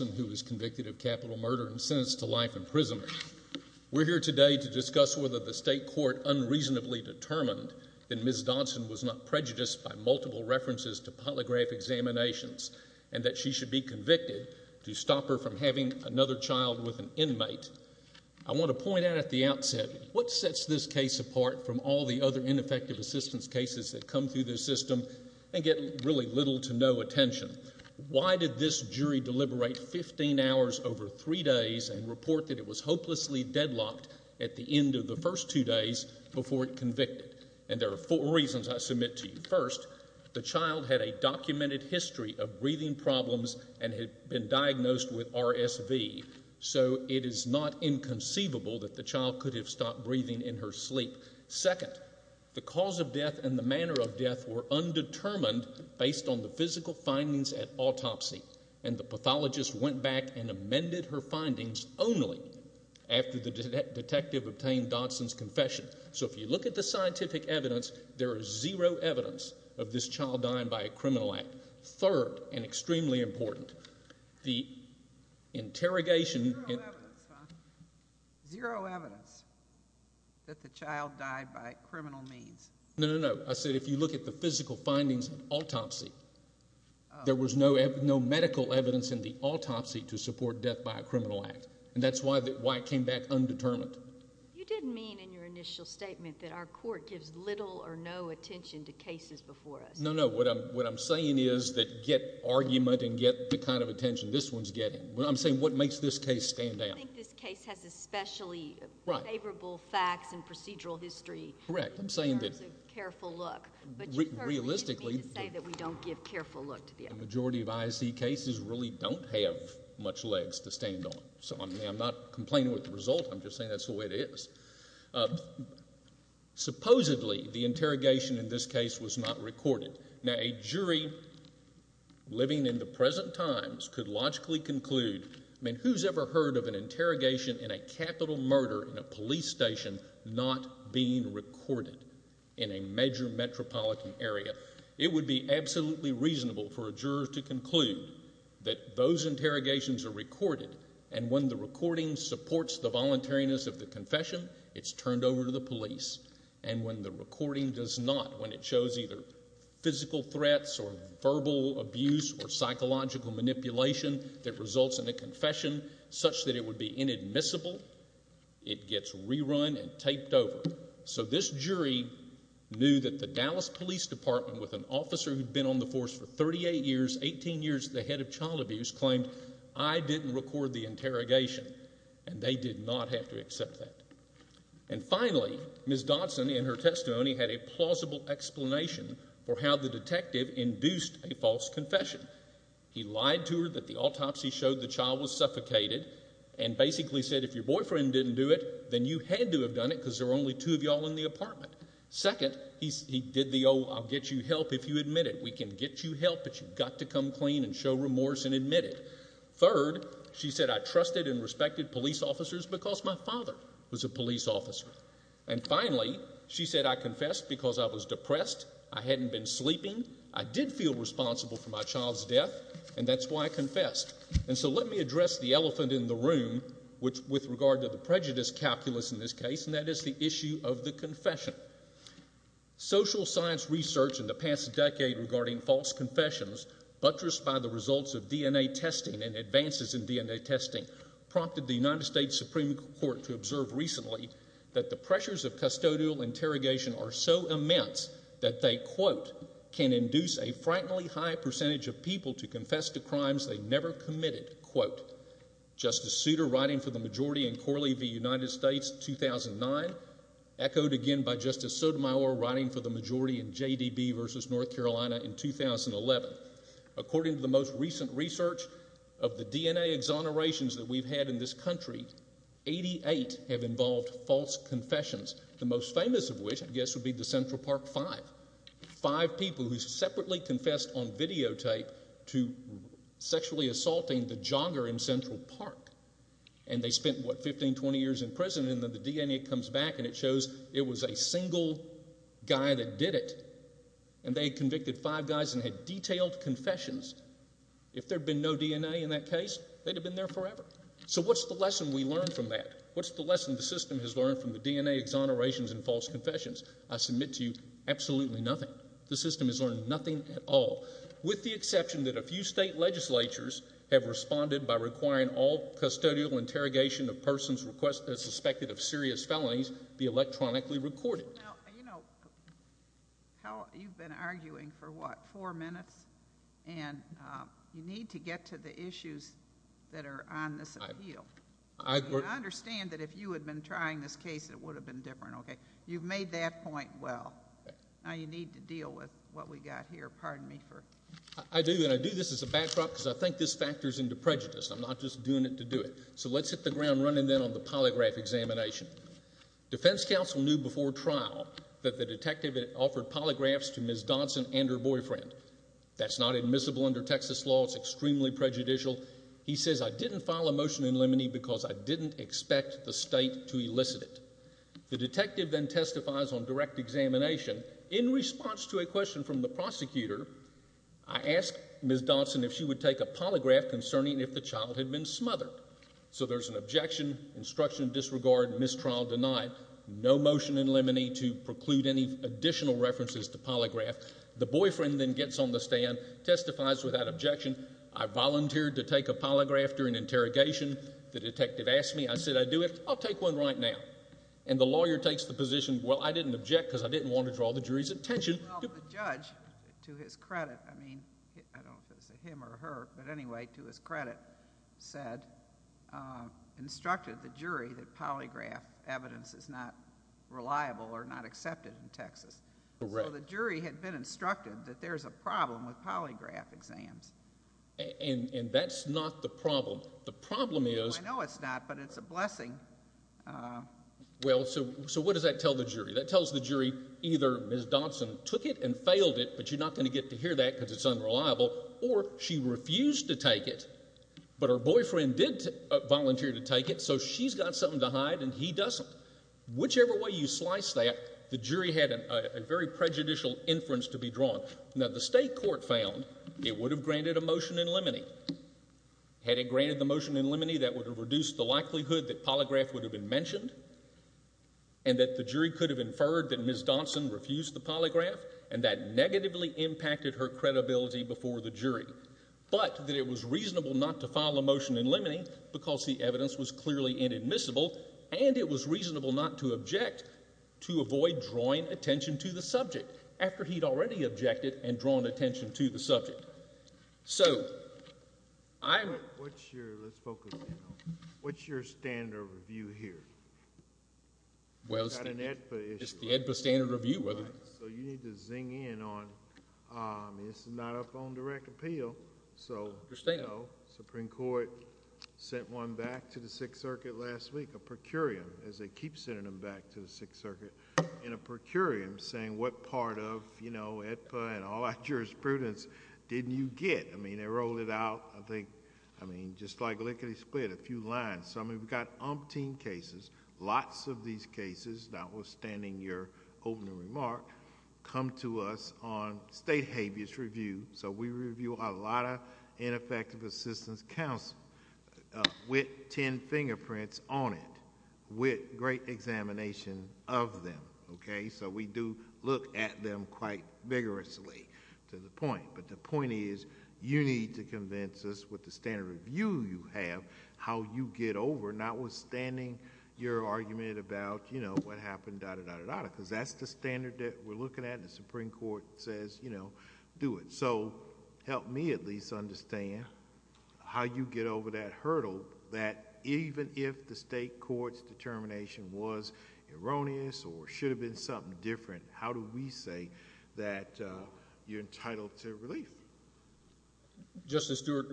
of Capital Murder and Sentenced to Life in Prison. We're here today to discuss whether the state court unreasonably determined that Ms. Dodson was not prejudiced by multiple references to polygraph examinations and that she should be convicted to stop her from having another child with an inmate. I want to point out at the outset, what sets this case apart from all the other ineffective assistance cases that come through this system and get really little to no attention. Why did this jury deliberate 15 hours over 3 days and report that it was hopelessly deadlocked at the end of the first 2 days before it convicted? And there are 4 reasons I submit to you. First, the child had a documented history of breathing problems and had been diagnosed with RSV. So it is not inconceivable that the child could have stopped breathing in her sleep. Second, the cause of death and the manner of death were undetermined based on the physical findings at autopsy. And the pathologist went back and amended her findings only after the detective obtained Dodson's confession. So if you look at the scientific evidence, there is zero evidence of this child dying by a criminal act. Third, and extremely important, the interrogation... Zero evidence, huh? Zero evidence that the child died by criminal means. No, no, no. I said if you look at the physical findings at autopsy, there was no medical evidence in the autopsy to support death by a criminal act. And that's why it came back undetermined. You didn't mean in your initial statement that our court gives little or no attention to cases before us. No, no. What I'm saying is that get argument and get the kind of attention this one's getting. I'm saying what makes this case stand out? I think this case has especially favorable facts and procedural history. Correct. I'm saying that... In terms of careful look. Realistically... But you certainly didn't mean to say that we don't give careful look to the other cases. The majority of IIC cases really don't have much legs to stand on. So I'm not complaining with the result. I'm just saying that's the way it is. Supposedly, the interrogation in this case was not recorded. Now, a jury living in the present times could logically conclude... I mean, who's ever heard of an interrogation in a capital murder in a police station not being recorded in a major metropolitan area? It would be absolutely reasonable for a juror to conclude that those interrogations are recorded and when the recording supports the voluntariness of the confession, it's turned over to the police. And when the recording does not, when it shows either physical threats or verbal abuse or psychological manipulation that results in a confession such that it would be inadmissible, it gets rerun and taped over. So this jury knew that the Dallas Police Department with an officer who'd been on the force for 38 years, 18 years, the head of child abuse claimed, I didn't record the interrogation. And they did not have to accept that. And finally, Ms. Dodson in her testimony had a plausible explanation for how the detective induced a false confession. He lied to her that the autopsy showed the child was suffocated and basically said, if your boyfriend didn't do it, then you had to have done it because there were only two of y'all in the apartment. Second, he did the, oh, I'll get you help if you admit it. We can get you help, but you've got to come clean and show remorse and admit it. Third, she said, I trusted and respected police officers because my father was a police officer. And finally, she said, I confessed because I was depressed, I hadn't been sleeping, I did feel responsible for my child's death, and that's why I confessed. And so let me address the elephant in the room with regard to the prejudice calculus in this case, and that is the issue of the confession. Social science research in the past decade regarding false confessions buttressed by the results of DNA testing and advances in DNA testing prompted the United States Supreme Court to observe recently that the result can induce a frighteningly high percentage of people to confess to crimes they never committed. Quote, Justice Souter writing for the majority in Corley v. United States, 2009, echoed again by Justice Sotomayor writing for the majority in JDB v. North Carolina in 2011. According to the most recent research of the DNA exonerations that we've had in this country, 88 have involved false confessions, the most famous of which, I guess, would be the Central Park Five. Five people who separately confessed on videotape to sexually assaulting the jogger in Central Park, and they spent, what, 15, 20 years in prison, and then the DNA comes back and it shows it was a single guy that did it, and they convicted five guys and had detailed confessions. If there'd been no DNA in that case, they'd have been there forever. So what's the lesson we learned from that? What's the lesson the system has learned from the DNA exonerations and false confessions? I submit to you, absolutely nothing. The system has learned nothing at all, with the exception that a few state legislatures have responded by requiring all custodial interrogation of persons suspected of serious felonies be electronically recorded. Now, you know, you've been arguing for, what, four minutes, and you need to get to the issues that are on this appeal. I understand that if you had been trying this case, it would have been different, okay? You've made that point well. Now you need to deal with what we've got here. Pardon me for... I do, and I do this as a backdrop because I think this factors into prejudice. I'm not just doing it to do it. So let's hit the ground running then on the polygraph examination. Defense counsel knew before trial that the detective had offered polygraphs to Ms. Dodson and her boyfriend. That's not admissible under Texas law. It's extremely prejudicial. He says, I didn't file a motion in limine because I didn't expect the state to elicit it. The detective then testifies on direct examination. In response to a question from the prosecutor, I asked Ms. Dodson if she would take a polygraph concerning if the child had been smothered. So there's an objection, instruction disregard, mistrial denied, no motion in limine to preclude any additional references to polygraph. The boyfriend then gets on the stand, testifies without objection. I volunteered to take a polygraph during interrogation. The detective asked me. I said, I do it. I'll take one right now. And the lawyer takes the position, well, I didn't object because I didn't want to draw the jury's attention... Well, the judge, to his credit, I mean, I don't know if it's a him or a her, but anyway, to his credit, said, instructed the jury that polygraph evidence is not reliable or not accepted in Texas. So the jury had been instructed that there's a problem with polygraph exams. And that's not the problem. The problem is... I know it's not, but it's a blessing. Well, so what does that tell the jury? That tells the jury either Ms. Dodson took it and failed it, but you're not going to get to hear that because it's unreliable, or she refused to take it, but her boyfriend did volunteer to take it, so she's got something to hide and he doesn't. Whichever way you slice that, the jury had a very prejudicial inference to be drawn. Now, the state court found it would have granted a motion in limine. Had it granted the motion in limine, that would have reduced the likelihood that polygraph would have been mentioned, and that the jury could have inferred that Ms. Dodson refused the polygraph, and that negatively impacted her credibility before the jury. But that it was reasonable not to file a motion in limine because the evidence was clearly inadmissible, and it was reasonable not to object to avoid drawing attention to the subject after he'd already objected and drawn attention to the subject. So I'm... But what's your... let's focus in on... what's your standard of review here? Well, it's... It's not an AEDPA issue, right? It's the AEDPA standard of review, whether... Right. So you need to zing in on... this is not up on direct appeal, so... I understand. The Supreme Court sent one back to the Sixth Circuit last week, a procurium, as they keep sending them back to the Sixth Circuit, in a procurium saying, what part of AEDPA and all our jurisprudence didn't you get? I mean, they rolled it out, I think, I mean, just like lickety-split, a few lines. So, I mean, we've got umpteen cases, lots of these cases, notwithstanding your opening remark, come to us on state habeas review. So we review a lot of ineffective assistance counsel, with ten fingerprints on it, with great examination of them, okay? So we do look at them quite vigorously, to the point. But the point is, you need to convince us with the standard of view you have, how you get over, notwithstanding your argument about, you know, what happened, da-da-da-da-da, because that's the standard that we're looking at, and the Supreme Court says, you know, do it. So, help me at least understand how you get over that hurdle, that even if the state court's determination was erroneous or should have been something different, how do we say that you're entitled to relief? Justice Stewart,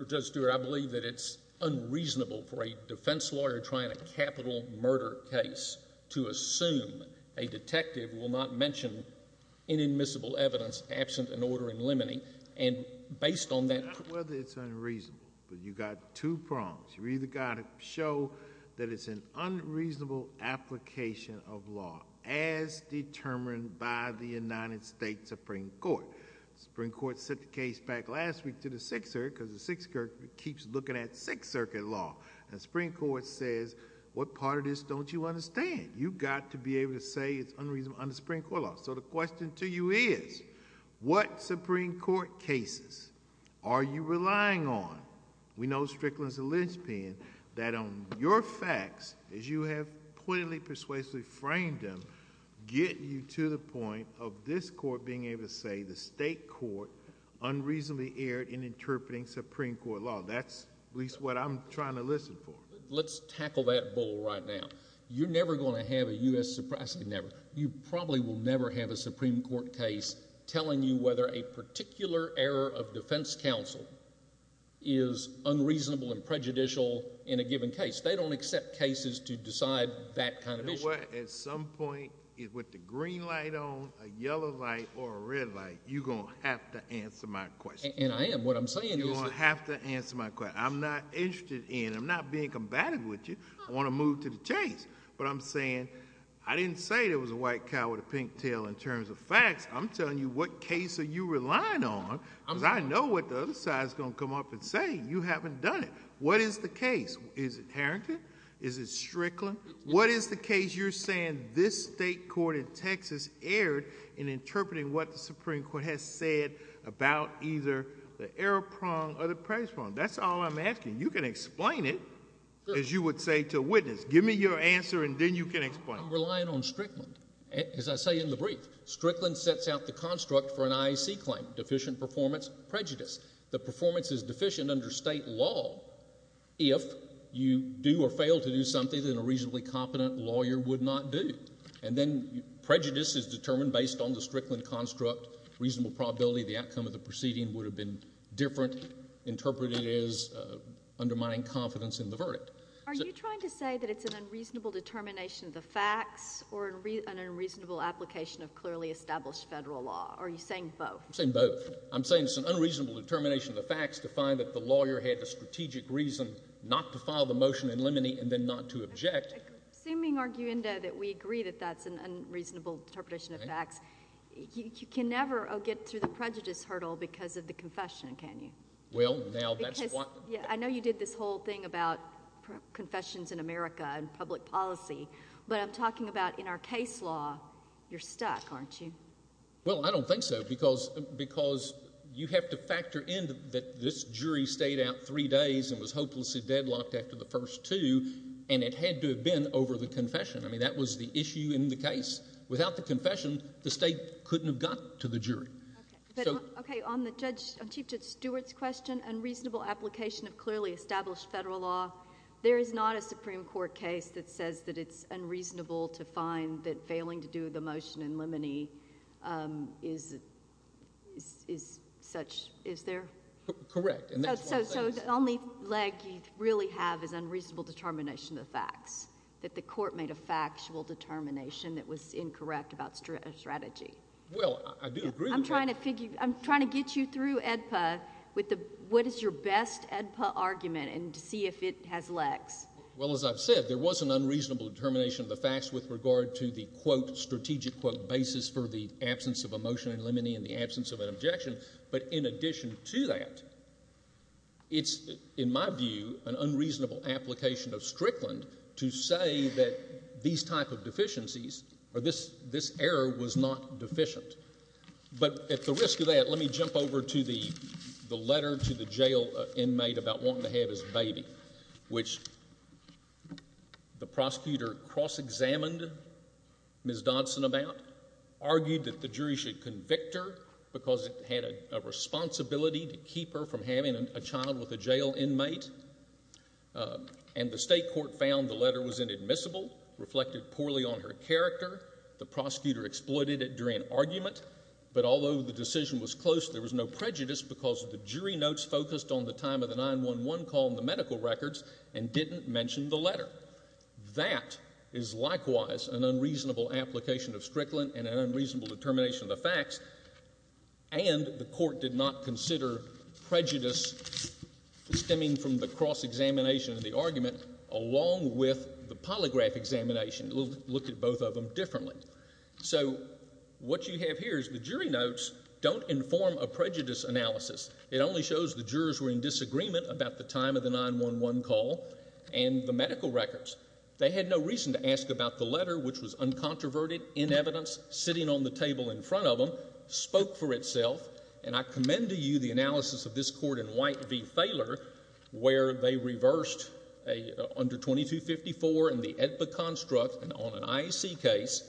I believe that it's unreasonable for a defense lawyer trying a capital murder case to assume a detective will not mention inadmissible evidence absent an order in limine, and based on that... It's not whether it's unreasonable, but you've got two prongs. You've either got to show that it's an unreasonable application of law, as determined by the United States Supreme Court. The Supreme Court sent the case back last week to the Sixth Circuit, because the Sixth Circuit keeps looking at Sixth Circuit law, and the Supreme Court says, what part of this don't you understand? You've got to be able to say it's unreasonable under Supreme Court law. So, the question to you is, what Supreme Court cases are you relying on? We know Strickland's a linchpin, that on your facts, as you have pointedly, persuasively framed them, get you to the point of this court being able to say the state court unreasonably erred in interpreting Supreme Court law. That's at least what I'm trying to listen for. Let's tackle that bull right now. You're never going to have a U.S.... never. You probably will never have a Supreme Court case telling you whether a particular error of defense counsel is unreasonable and prejudicial in a given case. They don't accept cases to decide that kind of issue. You know what? At some point, with the green light on, a yellow light, or a red light, you're going to have to answer my question. And I am. What I'm saying is... You're going to have to answer my question. I'm not interested in... I'm not being combative with you. I want to move to the case. But I'm saying, I didn't say there was a white cow with a pink tail in terms of facts. I'm telling you what case are you relying on because I know what the other side is going to come up and say. You haven't done it. What is the case? Is it Harrington? Is it Strickland? What is the case you're saying this state court in Texas erred in interpreting what the Supreme Court has said about either the error prong or the praise prong? That's all I'm asking. You can explain it, as you would say to a witness. Give me your answer and then you can explain. I'm relying on Strickland. As I say in the brief, Strickland sets out the construct for an IEC claim, deficient performance, prejudice. The performance is deficient under state law. If you do or fail to do something that a reasonably competent lawyer would not do. And then prejudice is determined based on the Strickland construct, reasonable probability the outcome of the different interpreted is undermining confidence in the verdict. Are you trying to say that it's an unreasonable determination of the facts or an unreasonable application of clearly established federal law? Are you saying both? I'm saying both. I'm saying it's an unreasonable determination of the facts to find that the lawyer had the strategic reason not to file the motion in limine and then not to object. Assuming, arguendo, that we agree that that's an unreasonable interpretation of facts, you can never get through the prejudice hurdle because of the confession, can you? Well, now that's what... I know you did this whole thing about confessions in America and public policy, but I'm talking about in our case law, you're stuck, aren't you? Well, I don't think so because you have to factor in that this jury stayed out three days and was hopelessly deadlocked after the first two and it had to have been over the confession. I mean, that was the issue in the case. Without the confession, the state couldn't have gotten to the jury. Okay. On Chief Judge Stewart's question, unreasonable application of clearly established federal law, there is not a Supreme Court case that says that it's unreasonable to find that failing to do the motion in limine is such... Is there? Correct. And that's why I'm saying... So the only leg you really have is unreasonable determination of the facts, that the court made a factual determination that was incorrect about strategy. Well, I do agree with that. I'm trying to get you through AEDPA with the, what is your best AEDPA argument and to see if it has legs. Well, as I've said, there was an unreasonable determination of the facts with regard to the quote, strategic quote, basis for the absence of a motion in limine and the absence of an objection. But in addition to that, it's, in my view, an unreasonable application of Strickland to say that these type of deficiencies or this error was not deficient. But at the risk of that, let me jump over to the letter to the jail inmate about wanting to have his baby, which the prosecutor cross-examined Ms. Dodson about, argued that the jury should convict her because it had a responsibility to keep her from having a child with a jail inmate. And the state court found the letter was inadmissible, reflected poorly on her character. The prosecutor exploited it during argument. But although the decision was close, there was no prejudice because the jury notes focused on the time of the 911 call and the medical records and didn't mention the letter. That is likewise an unreasonable application of Strickland and an unreasonable determination of the facts. And the court did not consider prejudice stemming from the cross-examination of the argument along with the polygraph examination. It looked at both of them differently. So what you have here is the jury notes don't inform a prejudice analysis. It only shows the jurors were in disagreement about the time of the 911 call and the medical records. They had no reason to ask about the letter, which was uncontroverted, in evidence, sitting on the table in front of them, spoke for itself. And I commend to you the analysis of this court in White v. Thaler, where they reversed under 2254 in the AEDPA construct on an IEC case,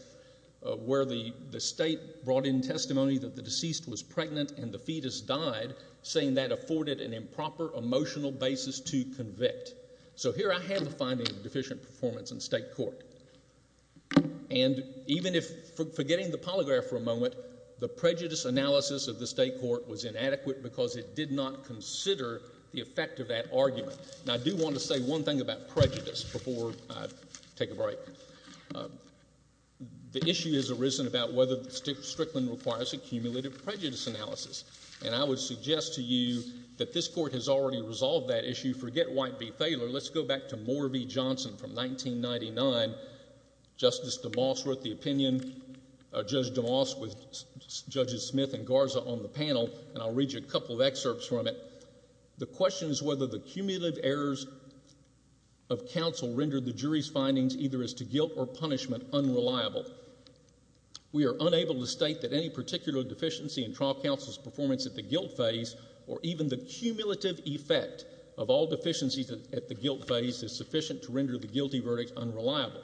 where the state brought in testimony that the deceased was pregnant and the fetus died, saying that afforded an improper emotional basis to convict. So here I have the finding of deficient performance in state court. And even if forgetting the polygraph for a moment, the prejudice analysis of the state court was inadequate because it did not consider the effect of that argument. Now, I do want to say one thing about prejudice before I take a break. The issue has arisen about whether Strickland requires a cumulative prejudice analysis. And I would suggest to you that this court has already resolved that issue. Forget White v. Thaler. Let's go back to Moore v. Johnson from 1999. Justice DeMoss wrote the opinion, Judge DeMoss with Judges Smith and Garza on the panel, and I'll read you a couple of excerpts from it. The question is whether the cumulative errors of counsel rendered the jury's findings, either as to guilt or punishment, unreliable. We are unable to state that any particular deficiency in trial counsel's performance at the guilt phase or even the cumulative effect of all deficiencies at the guilt phase is sufficient to render the guilty verdict unreliable.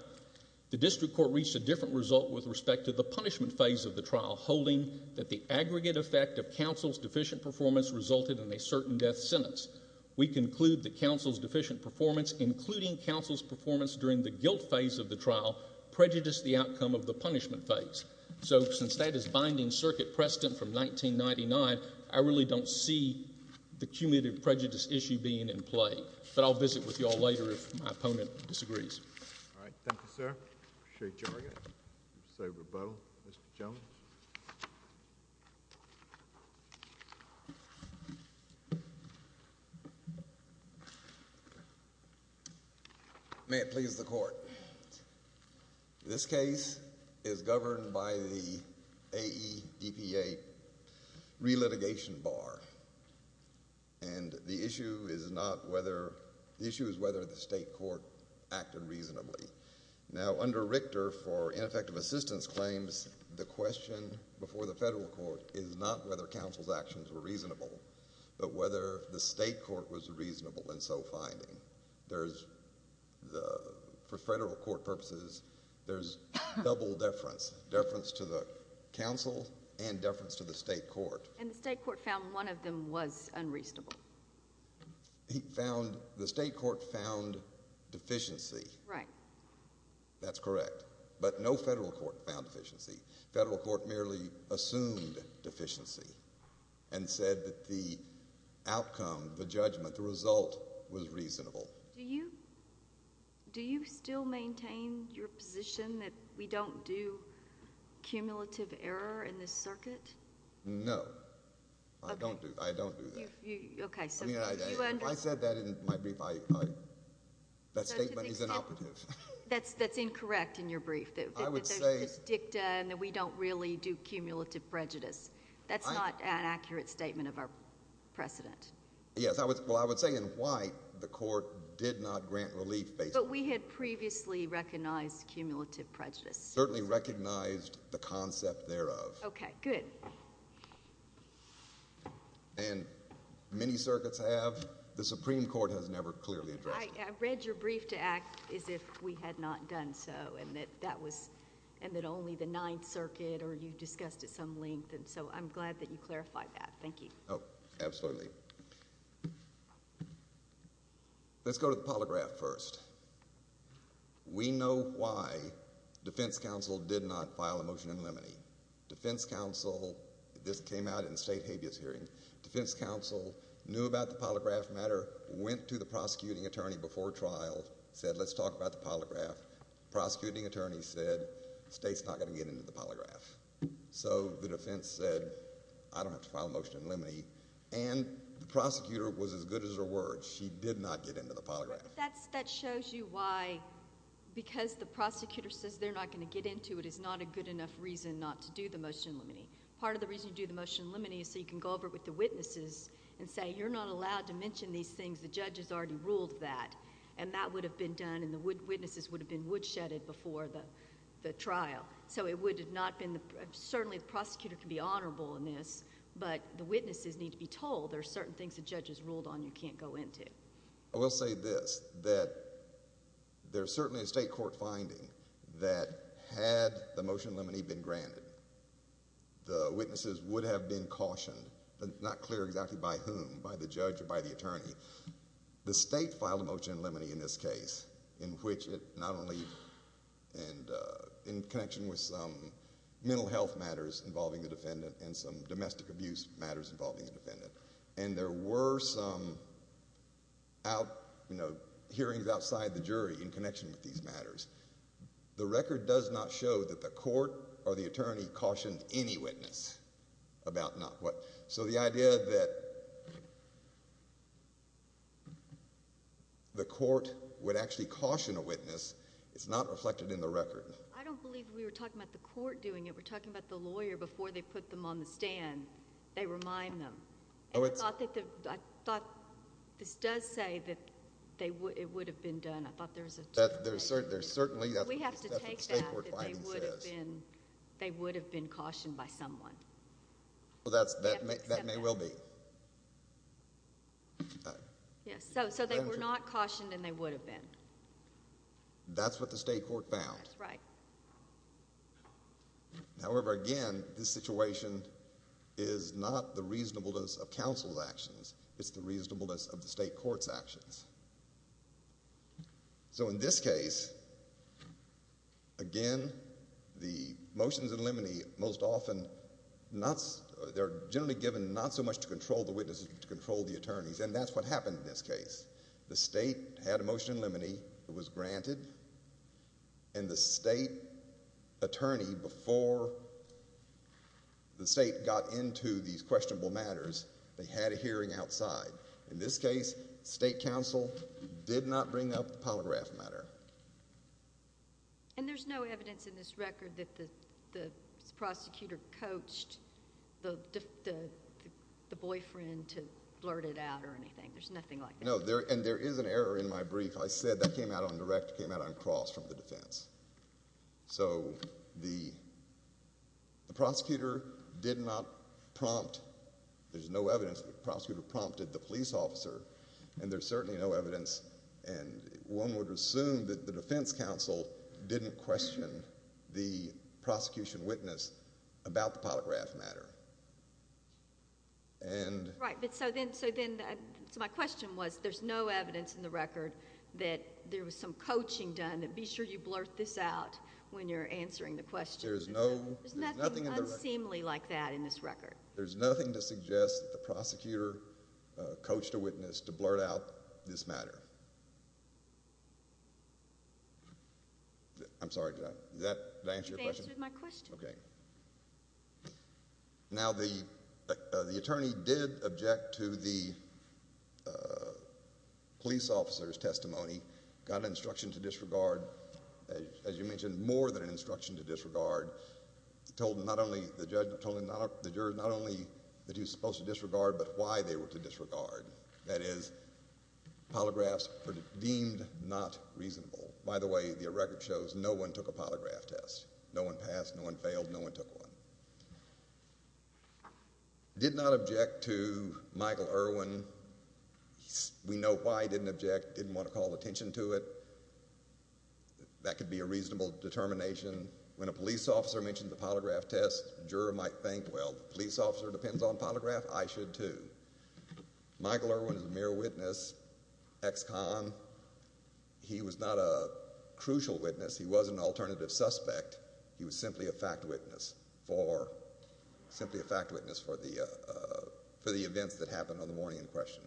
The district court reached a different result with respect to the punishment phase of the trial, holding that the aggregate effect of counsel's deficient performance resulted in a certain death sentence. We conclude that counsel's deficient performance, including counsel's performance during the guilt phase of the trial, prejudiced the outcome of the punishment phase. So since that is binding circuit precedent from 1999, I really don't see the cumulative prejudice issue being in play. But I'll visit with you all later if my opponent disagrees. All right. Thank you, sir. Appreciate your rebuttal. Mr. Jones. May it please the Court. This case is governed by the AEDPA re-litigation bar, and the issue is not whether—the issue is whether the state court acted reasonably. Now, under Richter, for ineffective assistance claims, the question before the federal court is not whether counsel's actions were reasonable, but whether the state court was reasonable in so finding. There's the—for federal court purposes, there's double deference, deference to the counsel and deference to the state court. And the state court found one of them was unreasonable. He found—the state court found deficiency. Right. That's correct. But no federal court found deficiency. Federal court merely assumed deficiency and said that the outcome, the judgment, the result was reasonable. Do you still maintain your position that we don't do cumulative error in this circuit? No. I don't do—I don't do that. Okay. So you— I mean, if I said that in my brief, I—that statement is inoperative. That's incorrect in your brief. I would say— That we don't really do cumulative prejudice. That's not an accurate statement of our precedent. Yes. Well, I would say in white, the court did not grant relief based on— But we had previously recognized cumulative prejudice. Certainly recognized the concept thereof. Okay. Good. And many circuits have. The Supreme Court has never clearly addressed it. I read your brief to act as if we had not done so and that that was— and that only the Ninth Circuit or you discussed at some length. And so I'm glad that you clarified that. Thank you. Oh, absolutely. Let's go to the polygraph first. We know why defense counsel did not file a motion in limine. Defense counsel—this came out in the state habeas hearing— defense counsel knew about the polygraph matter, went to the prosecuting attorney before trial, said, let's talk about the polygraph. Prosecuting attorney said, state's not going to get into the polygraph. So the defense said, I don't have to file a motion in limine. And the prosecutor was as good as her word. She did not get into the polygraph. That shows you why—because the prosecutor says they're not going to get into it is not a good enough reason not to do the motion in limine. Part of the reason you do the motion in limine is so you can go over it with the witnesses and say, you're not allowed to mention these things. The judge has already ruled that. And that would have been done and the witnesses would have been woodshedded before the trial. So it would have not been—certainly the prosecutor can be honorable in this, but the witnesses need to be told there are certain things the judge has ruled on you can't go into. I will say this, that there's certainly a state court finding that had the motion in limine been granted, the witnesses would have been cautioned, but it's not clear exactly by whom, by the judge or by the attorney. The state filed a motion in limine in this case in which it not only— and in connection with some mental health matters involving the defendant and some domestic abuse matters involving the defendant. And there were some hearings outside the jury in connection with these matters. The record does not show that the court or the attorney cautioned any witness about not what— so the idea that the court would actually caution a witness is not reflected in the record. I don't believe we were talking about the court doing it. We're talking about the lawyer before they put them on the stand. They remind them. I thought this does say that it would have been done. I thought there was a— There's certainly— We have to take that if they would have been cautioned by someone. That may well be. So they were not cautioned and they would have been. That's what the state court found. That's right. However, again, this situation is not the reasonableness of counsel's actions. It's the reasonableness of the state court's actions. So in this case, again, the motions in limine most often not— they're generally given not so much to control the witnesses but to control the attorneys, and that's what happened in this case. The state had a motion in limine that was granted, and the state attorney, before the state got into these questionable matters, they had a hearing outside. In this case, state counsel did not bring up the polygraph matter. And there's no evidence in this record that the prosecutor coached the boyfriend to blurt it out or anything? There's nothing like that? No, and there is an error in my brief. I said that came out on cross from the defense. So the prosecutor did not prompt— there's no evidence that the prosecutor prompted the police officer, and there's certainly no evidence, and one would assume that the defense counsel didn't question the prosecution witness about the polygraph matter. Right, but so then—so my question was, there's no evidence in the record that there was some coaching done, that be sure you blurt this out when you're answering the question. There's no— There's nothing unseemly like that in this record. There's nothing to suggest that the prosecutor coached a witness to blurt out this matter? I'm sorry, did I answer your question? You've answered my question. Now, the attorney did object to the police officer's testimony, got an instruction to disregard, as you mentioned, more than an instruction to disregard, told not only the judge, told the jurors not only that he was supposed to disregard, but why they were to disregard. That is, polygraphs were deemed not reasonable. By the way, the record shows no one took a polygraph test. No one passed, no one failed, no one took one. Did not object to Michael Irwin. We know why he didn't object, didn't want to call attention to it. That could be a reasonable determination. When a police officer mentions a polygraph test, the juror might think, well, the police officer depends on polygraph, I should too. Michael Irwin is a mere witness, ex-con. He was not a crucial witness. He wasn't an alternative suspect. He was simply a fact witness for the events that happened on the morning in question.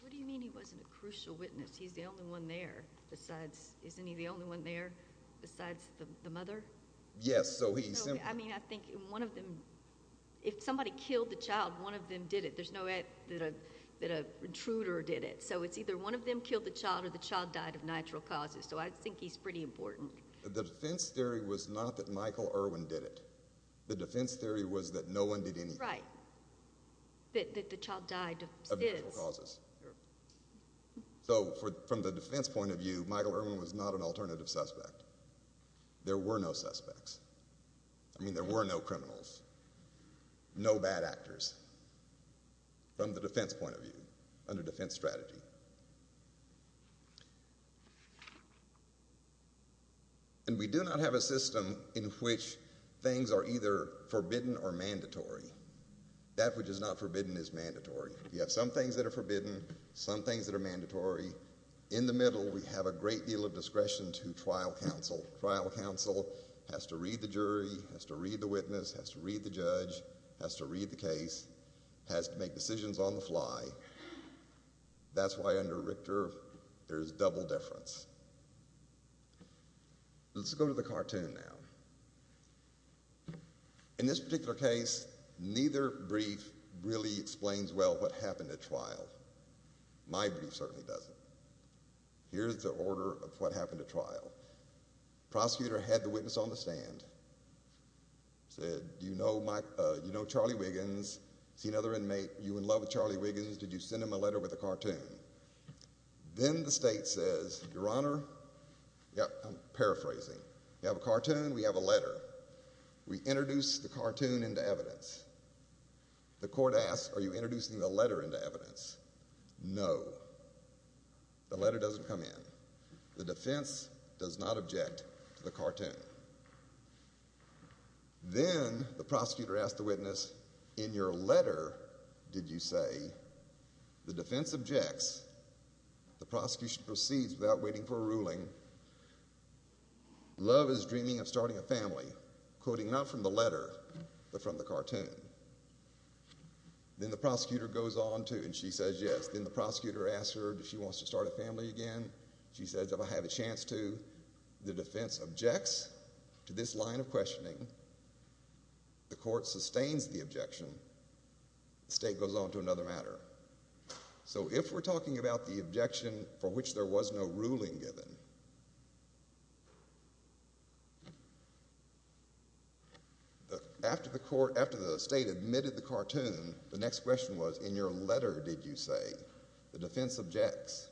What do you mean he wasn't a crucial witness? He's the only one there. Isn't he the only one there besides the mother? Yes. I think if somebody killed the child, one of them did it. There's no way that an intruder did it. It's either one of them killed the child or the child died of natural causes. I think he's pretty important. The defense theory was not that Michael Irwin did it. The defense theory was that no one did anything. Right. That the child died of natural causes. So from the defense point of view, Michael Irwin was not an alternative suspect. There were no suspects. I mean, there were no criminals. No bad actors. From the defense point of view, under defense strategy. And we do not have a system in which things are either forbidden or mandatory. That which is not forbidden is mandatory. You have some things that are forbidden, some things that are mandatory. In the middle, we have a great deal of discretion to trial counsel. Trial counsel has to read the jury, has to read the witness, has to read the judge, has to read the case, has to make decisions on the fly. That's why under Richter, there's double deference. Let's go to the cartoon now. In this particular case, neither brief really explains well what happened at trial. My brief certainly doesn't. Here's the order of what happened at trial. Prosecutor had the witness on the stand. Said, do you know Charlie Wiggins? See another inmate? You in love with Charlie Wiggins? Did you send him a letter with a cartoon? Then the state says, your honor, yeah, I'm paraphrasing. You have a cartoon, we have a letter. We introduce the cartoon into evidence. The court asks, are you introducing the letter into evidence? No. The letter doesn't come in. The defense does not object to the cartoon. Then the prosecutor asked the witness, in your letter did you say? The defense objects. The prosecution proceeds without waiting for a ruling. Love is dreaming of starting a family. Quoting not from the letter, but from the cartoon. Then the prosecutor goes on to, and she says yes. Then the prosecutor asks her if she wants to start a family again. She says, if I have a chance to. The defense objects to this line of questioning. The court sustains the objection. The state goes on to another matter. So if we're talking about the objection for which there was no ruling given, after the state admitted the cartoon, the next question was, in your letter did you say? The defense objects.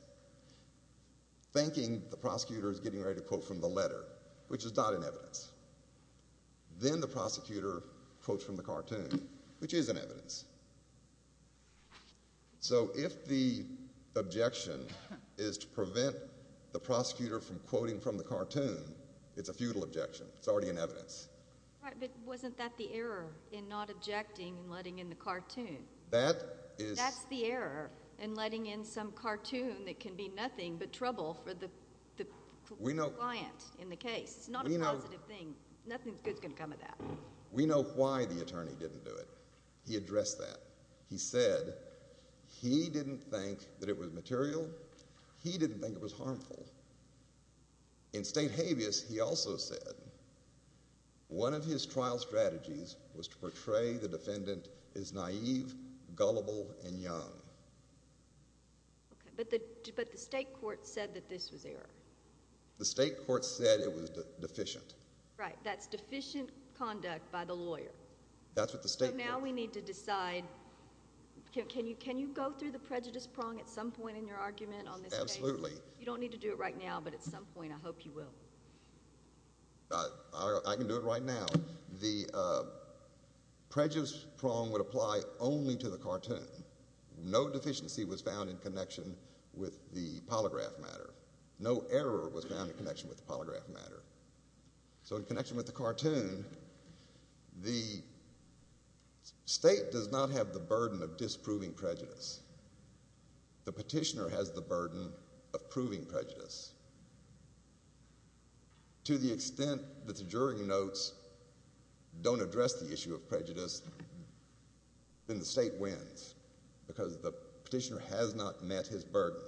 Thinking the prosecutor is getting ready to quote from the letter, Then the prosecutor quotes from the cartoon, which is an evidence. So if the objection is to prevent the prosecutor from quoting from the cartoon, it's a futile objection. It's already an evidence. But wasn't that the error in not objecting and letting in the cartoon? That is. That's the error in letting in some cartoon that can be nothing but trouble for the client in the case. It's not a positive thing. Nothing good is going to come of that. We know why the attorney didn't do it. He addressed that. He said he didn't think that it was material. He didn't think it was harmful. In State habeas, he also said, one of his trial strategies was to portray the defendant as naive, gullible, and young. But the state court said that this was error. The state court said it was deficient. Right. That's deficient conduct by the lawyer. That's what the state court said. So now we need to decide. Can you go through the prejudice prong at some point in your argument on this case? Absolutely. You don't need to do it right now, but at some point I hope you will. I can do it right now. The prejudice prong would apply only to the cartoon. No deficiency was found in connection with the polygraph matter. No error was found in connection with the polygraph matter. So in connection with the cartoon, the state does not have the burden of disproving prejudice. The petitioner has the burden of proving prejudice. To the extent that the jury notes don't address the issue of prejudice, then the state wins because the petitioner has not met his burden,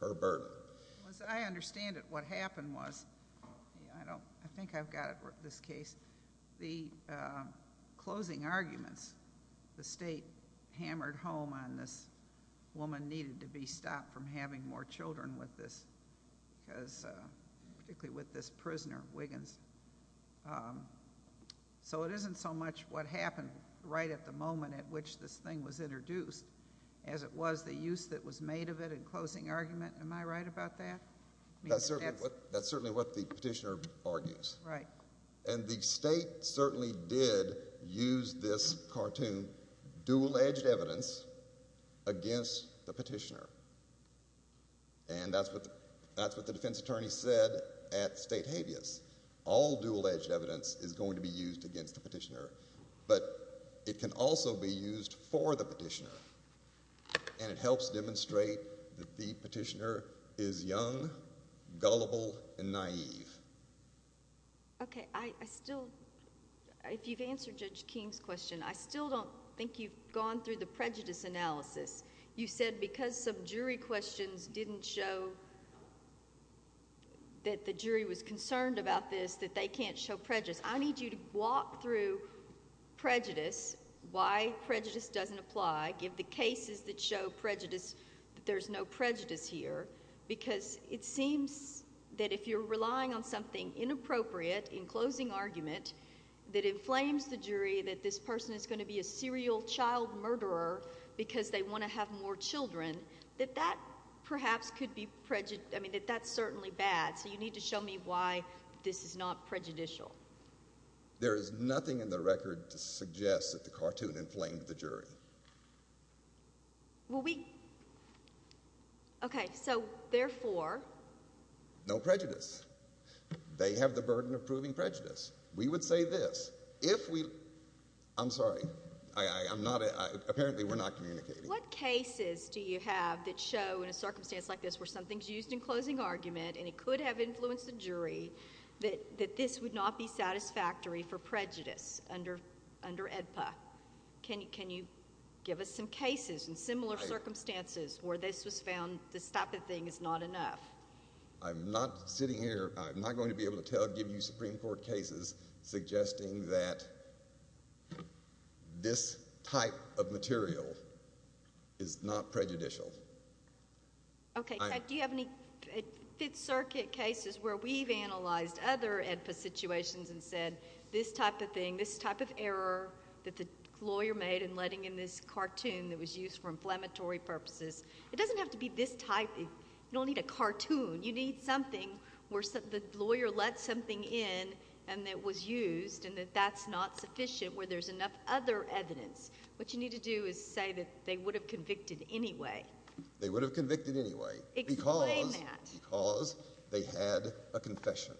her burden. As I understand it, what happened was, I think I've got it for this case, the closing arguments the state hammered home on this woman needed to be stopped from having more children with this, particularly with this prisoner, Wiggins. So it isn't so much what happened right at the moment at which this thing was introduced as it was the use that was made of it in closing argument. Am I right about that? That's certainly what the petitioner argues. And the state certainly did use this cartoon, dual-edged evidence, against the petitioner. And that's what the defense attorney said at state habeas. All dual-edged evidence is going to be used against the petitioner. But it can also be used for the petitioner. And it helps demonstrate that the petitioner is young, gullible, and naive. Okay, I still, if you've answered Judge King's question, I still don't think you've gone through the prejudice analysis. You said because some jury questions didn't show that the jury was concerned about this, that they can't show prejudice. I need you to walk through prejudice, why prejudice doesn't apply. There are cases that show prejudice, that there's no prejudice here. Because it seems that if you're relying on something inappropriate in closing argument that inflames the jury, that this person is going to be a serial child murderer because they want to have more children, that that perhaps could be prejudice, I mean, that that's certainly bad. So you need to show me why this is not prejudicial. There is nothing in the record to suggest that the cartoon inflamed the jury. Well, we, okay, so therefore? No prejudice. They have the burden of proving prejudice. We would say this, if we, I'm sorry, I'm not, apparently we're not communicating. What cases do you have that show in a circumstance like this where something's used in closing argument and it could have influenced the jury that this would not be satisfactory for prejudice under, under AEDPA? Can you, can you give us some cases in similar circumstances where this was found, this type of thing is not enough? I'm not sitting here, I'm not going to be able to tell, give you Supreme Court cases suggesting that this type of material is not prejudicial. Okay, do you have any Fifth Circuit cases where we've analyzed other AEDPA situations and said this type of thing, this type of error that the lawyer made in letting in this cartoon that was used for inflammatory purposes, it doesn't have to be this type, you don't need a cartoon, you need something where the lawyer let something in and it was used and that that's not sufficient where there's enough other evidence. What you need to do is say that they would have convicted anyway. They would have convicted anyway. Explain that. Because, because they had a confession.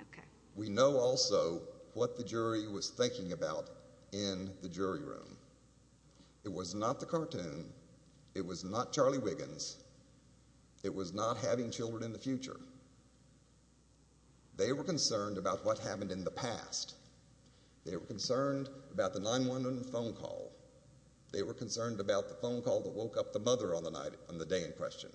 Okay. We know also what the jury was thinking about in the jury room. It was not the cartoon. It was not Charlie Wiggins. It was not having children in the future. They were concerned about what happened in the past. They were concerned about the 911 phone call. They were concerned about the phone call that woke up the mother on the night, on the day in question.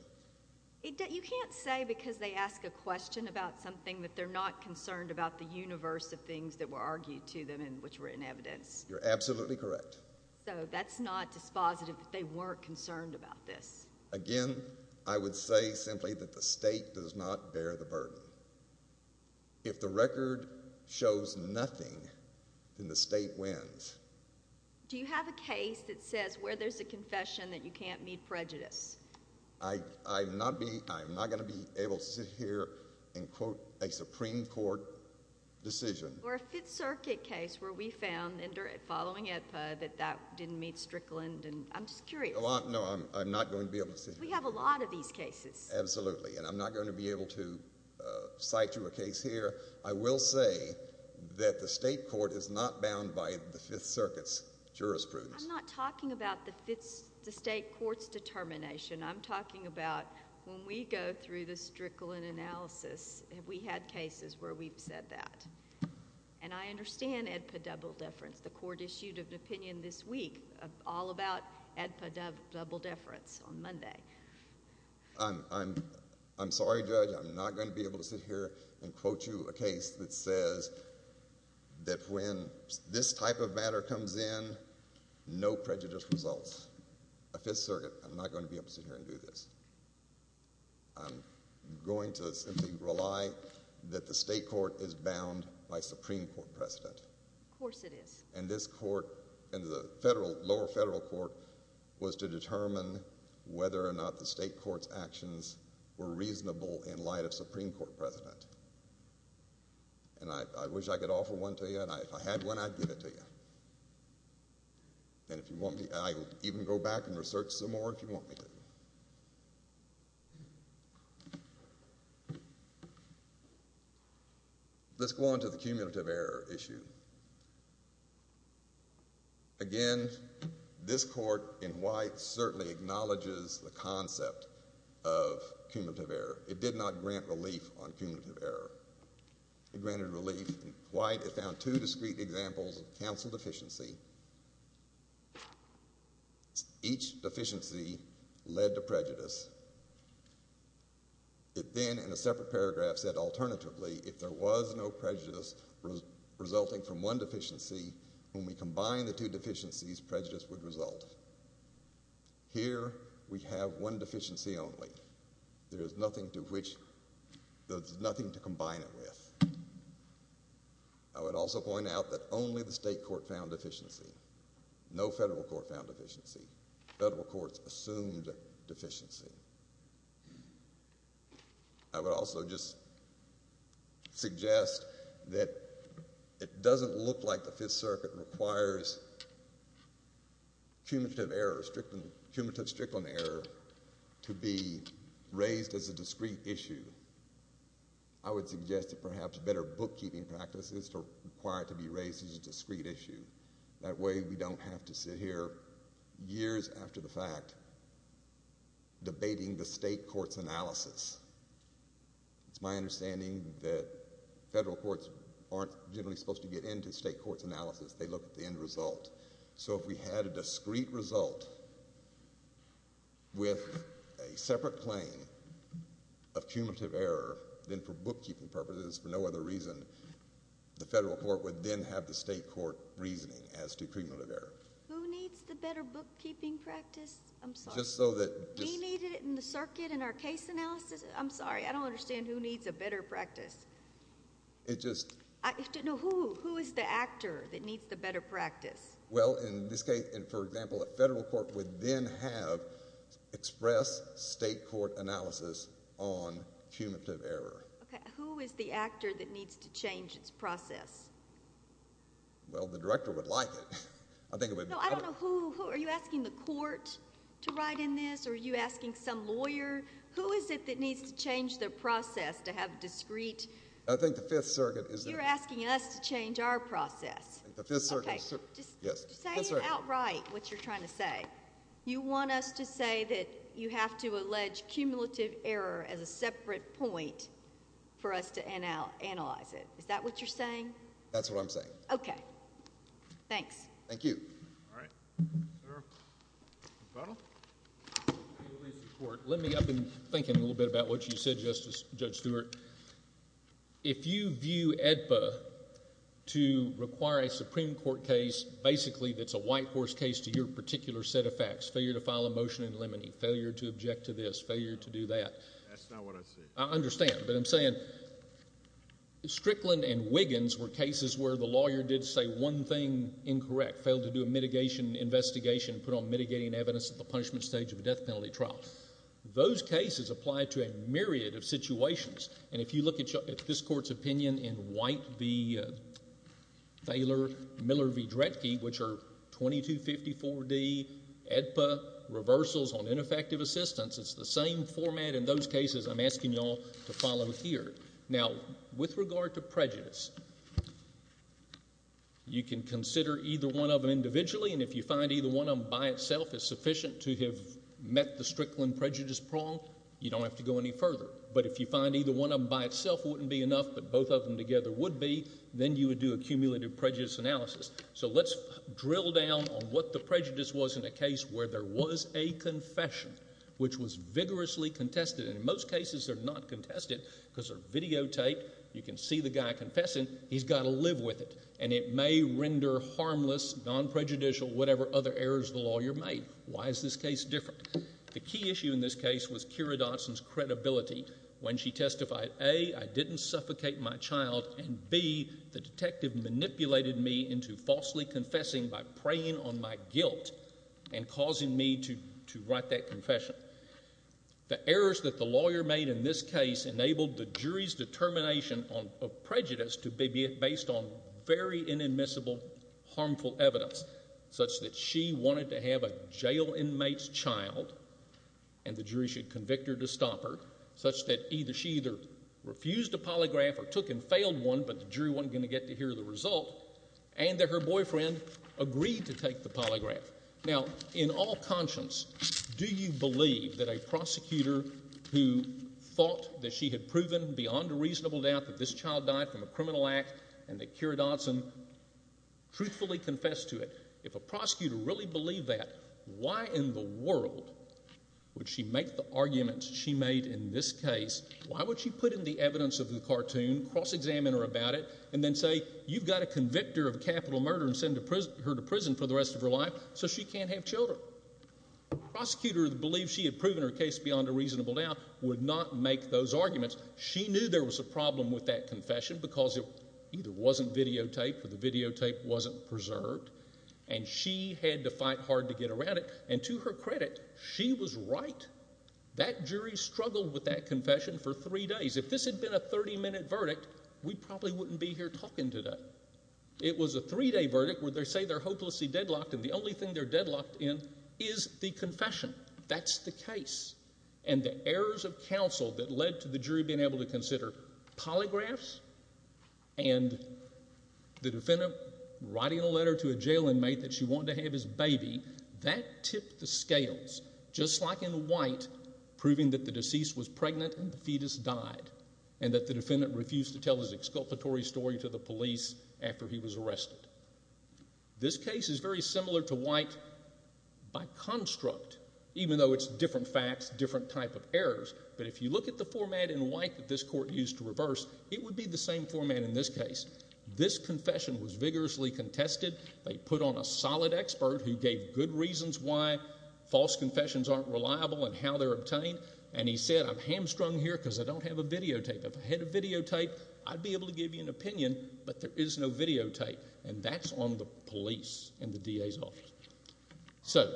You can't say because they ask a question about something that they're not concerned about the universe of things that were argued to them and which were in evidence. You're absolutely correct. So that's not dispositive that they weren't concerned about this. Again, I would say simply that the state does not bear the burden. If the record shows nothing, then the state wins. Do you have a case that says where there's a confession that you can't meet prejudice? I'm not going to be able to sit here and quote a Supreme Court decision. Or a Fifth Circuit case where we found, following EDPA, that that didn't meet Strickland, and I'm just curious. No, I'm not going to be able to sit here. We have a lot of these cases. Absolutely, and I'm not going to be able to cite you a case here. I will say that the state court is not bound by the Fifth Circuit's jurisprudence. I'm not talking about the state court's determination. I'm talking about when we go through the Strickland analysis, we had cases where we've said that. And I understand EDPA double deference. The court issued an opinion this week all about EDPA double deference on Monday. I'm sorry, Judge. I'm not going to be able to sit here and quote you a case that says that when this type of matter comes in, no prejudice results. I'm not a Fifth Circuit. I'm not going to be able to sit here and do this. I'm going to simply rely that the state court is bound by Supreme Court precedent. Of course it is. And this court, and the federal, lower federal court, was to determine whether or not the state court's actions were reasonable in light of Supreme Court precedent. And I wish I could offer one to you, and if I had one, I'd give it to you. And if you want me, I'll even go back and research some more if you want me to. Let's go on to the cumulative error issue. Again, this court in white certainly acknowledges the concept of cumulative error. It did not grant relief on cumulative error. It granted relief in white. It found two discrete examples of counsel deficiency. Each deficiency led to prejudice. It then, in a separate paragraph, said alternatively, if there was no prejudice resulting from one deficiency, when we combine the two deficiencies, prejudice would result. Here, we have one deficiency only. There is nothing to combine it with. I would also point out that only the state court found deficiency. No federal court found deficiency. Federal courts assumed deficiency. I would also just suggest that it doesn't look like the Fifth Circuit requires cumulative error, cumulative strickland error, to be raised as a discrete issue. I would suggest that perhaps better bookkeeping practices are required to be raised as a discrete issue. That way, we don't have to sit here years after the fact debating the state court's analysis. It's my understanding that federal courts aren't generally supposed to get into state court's analysis. They look at the end result. If we had a discrete result with a separate claim of cumulative error, then for bookkeeping purposes, for no other reason, the federal court would then have the state court reasoning as to cumulative error. Who needs the better bookkeeping practice? We needed it in the circuit in our case analysis. I'm sorry. I don't understand who needs a better practice. Who is the actor that needs the better practice? In this case, for example, a federal court would then have express state court analysis on cumulative error. Okay. Who is the actor that needs to change its process? Well, the director would like it. No, I don't know who. Are you asking the court to write in this, or are you asking some lawyer? Who is it that needs to change the process to have discrete— I think the Fifth Circuit is— You're asking us to change our process. I think the Fifth Circuit is— Just say it outright what you're trying to say. You want us to say that you have to allege cumulative error as a separate point for us to analyze it. Is that what you're saying? That's what I'm saying. Okay. Thanks. Thank you. All right. Sir? Mr. Connell? Let me—I've been thinking a little bit about what you said, Justice—Judge Stewart. If you view AEDPA to require a Supreme Court case basically that's a white horse case to your particular set of facts— failure to file a motion in limine— failure to object to this— That's not what I said. I understand, but I'm saying Strickland and Wiggins were cases where the lawyer did say one thing incorrect, failed to do a mitigation investigation, put on mitigating evidence at the punishment stage of a death penalty trial. Those cases apply to a myriad of situations, and if you look at this Court's opinion in White v. Thaler, Miller v. Dretke, which are 2254d AEDPA reversals on ineffective assistance, it's the same format in those cases I'm asking you all to follow here. Now, with regard to prejudice, you can consider either one of them individually, and if you find either one of them by itself is sufficient to have met the Strickland prejudice prong, you don't have to go any further. But if you find either one of them by itself wouldn't be enough, but both of them together would be, then you would do a cumulative prejudice analysis. So let's drill down on what the prejudice was in a case where there was a confession that was vigorously contested, and in most cases they're not contested because they're videotaped. You can see the guy confessing. He's got to live with it, and it may render harmless, non-prejudicial, whatever other errors of the law you're made. Why is this case different? The key issue in this case was Keira Dotson's credibility when she testified, A, I didn't suffocate my child, and B, the detective manipulated me into falsely confessing by preying on my guilt and causing me to write that confession. The errors that the lawyer made in this case enabled the jury's determination of prejudice to be based on very inadmissible, harmful evidence, such that she wanted to have a jail inmate's child, and the jury should convict her to stop her, such that she either refused a polygraph or took and failed one, but the jury wasn't going to get to hear the result, and that her boyfriend agreed to take the polygraph. Now, in all conscience, do you believe that a prosecutor who thought that she had proven beyond a reasonable doubt that this child died from a criminal act and that Keira Dotson truthfully confessed to it, if a prosecutor really believed that, why in the world would she make the arguments she made in this case, why would she put in the evidence of the cartoon, cross-examine her about it, and then say, you've got to convict her of capital murder and send her to prison for the rest of her life so she can't have children? Well, a prosecutor who believes she had proven her case beyond a reasonable doubt would not make those arguments. She knew there was a problem with that confession because it either wasn't videotaped or the videotape wasn't preserved, and she had to fight hard to get around it, and to her credit, she was right. That jury struggled with that confession for three days. If this had been a 30-minute verdict, we probably wouldn't be here talking today. It was a three-day verdict where they say they're hopelessly deadlocked, and the only thing they're deadlocked in is the confession. That's the case. And the errors of counsel that led to the jury being able to consider polygraphs and the defendant writing a letter to a jail inmate that she wanted to have his baby, that tipped the scales, just like in White, proving that the deceased was pregnant and the fetus died, and that the defendant refused to tell his exculpatory story to the police after he was arrested. This case is very similar to White by construct, even though it's different facts, different type of errors, but if you look at the format in White that this court used to reverse, it would be the same format in this case. This confession was vigorously contested. They put on a solid expert who gave good reasons why false confessions aren't reliable and how they're obtained, and he said, I'm hamstrung here because I don't have a videotape. There is no videotape, and that's on the police and the DA's office. So,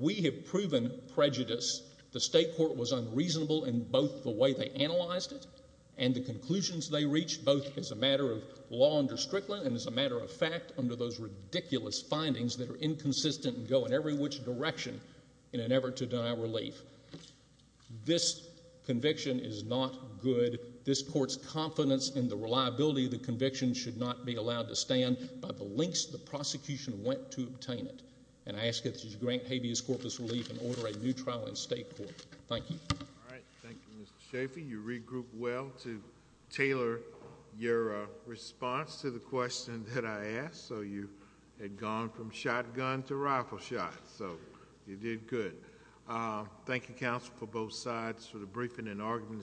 we have proven prejudice. The state court was unreasonable in both the way they analyzed it and the conclusions they reached, both as a matter of law under Strickland and as a matter of fact under those ridiculous findings that are inconsistent and go in every which direction in an effort to deny relief. This conviction is not good. This court's confidence that this conviction should not be allowed to stand by the lengths the prosecution went to obtain it, and I ask that you grant habeas corpus relief and order a new trial in state court. Thank you. All right. Thank you, Mr. Schaffey. You regrouped well to tailor your response to the question that I asked, so you had gone from shotgun to rifle shot, so you did good. Thank you, counsel, for both sides for the briefing and argument.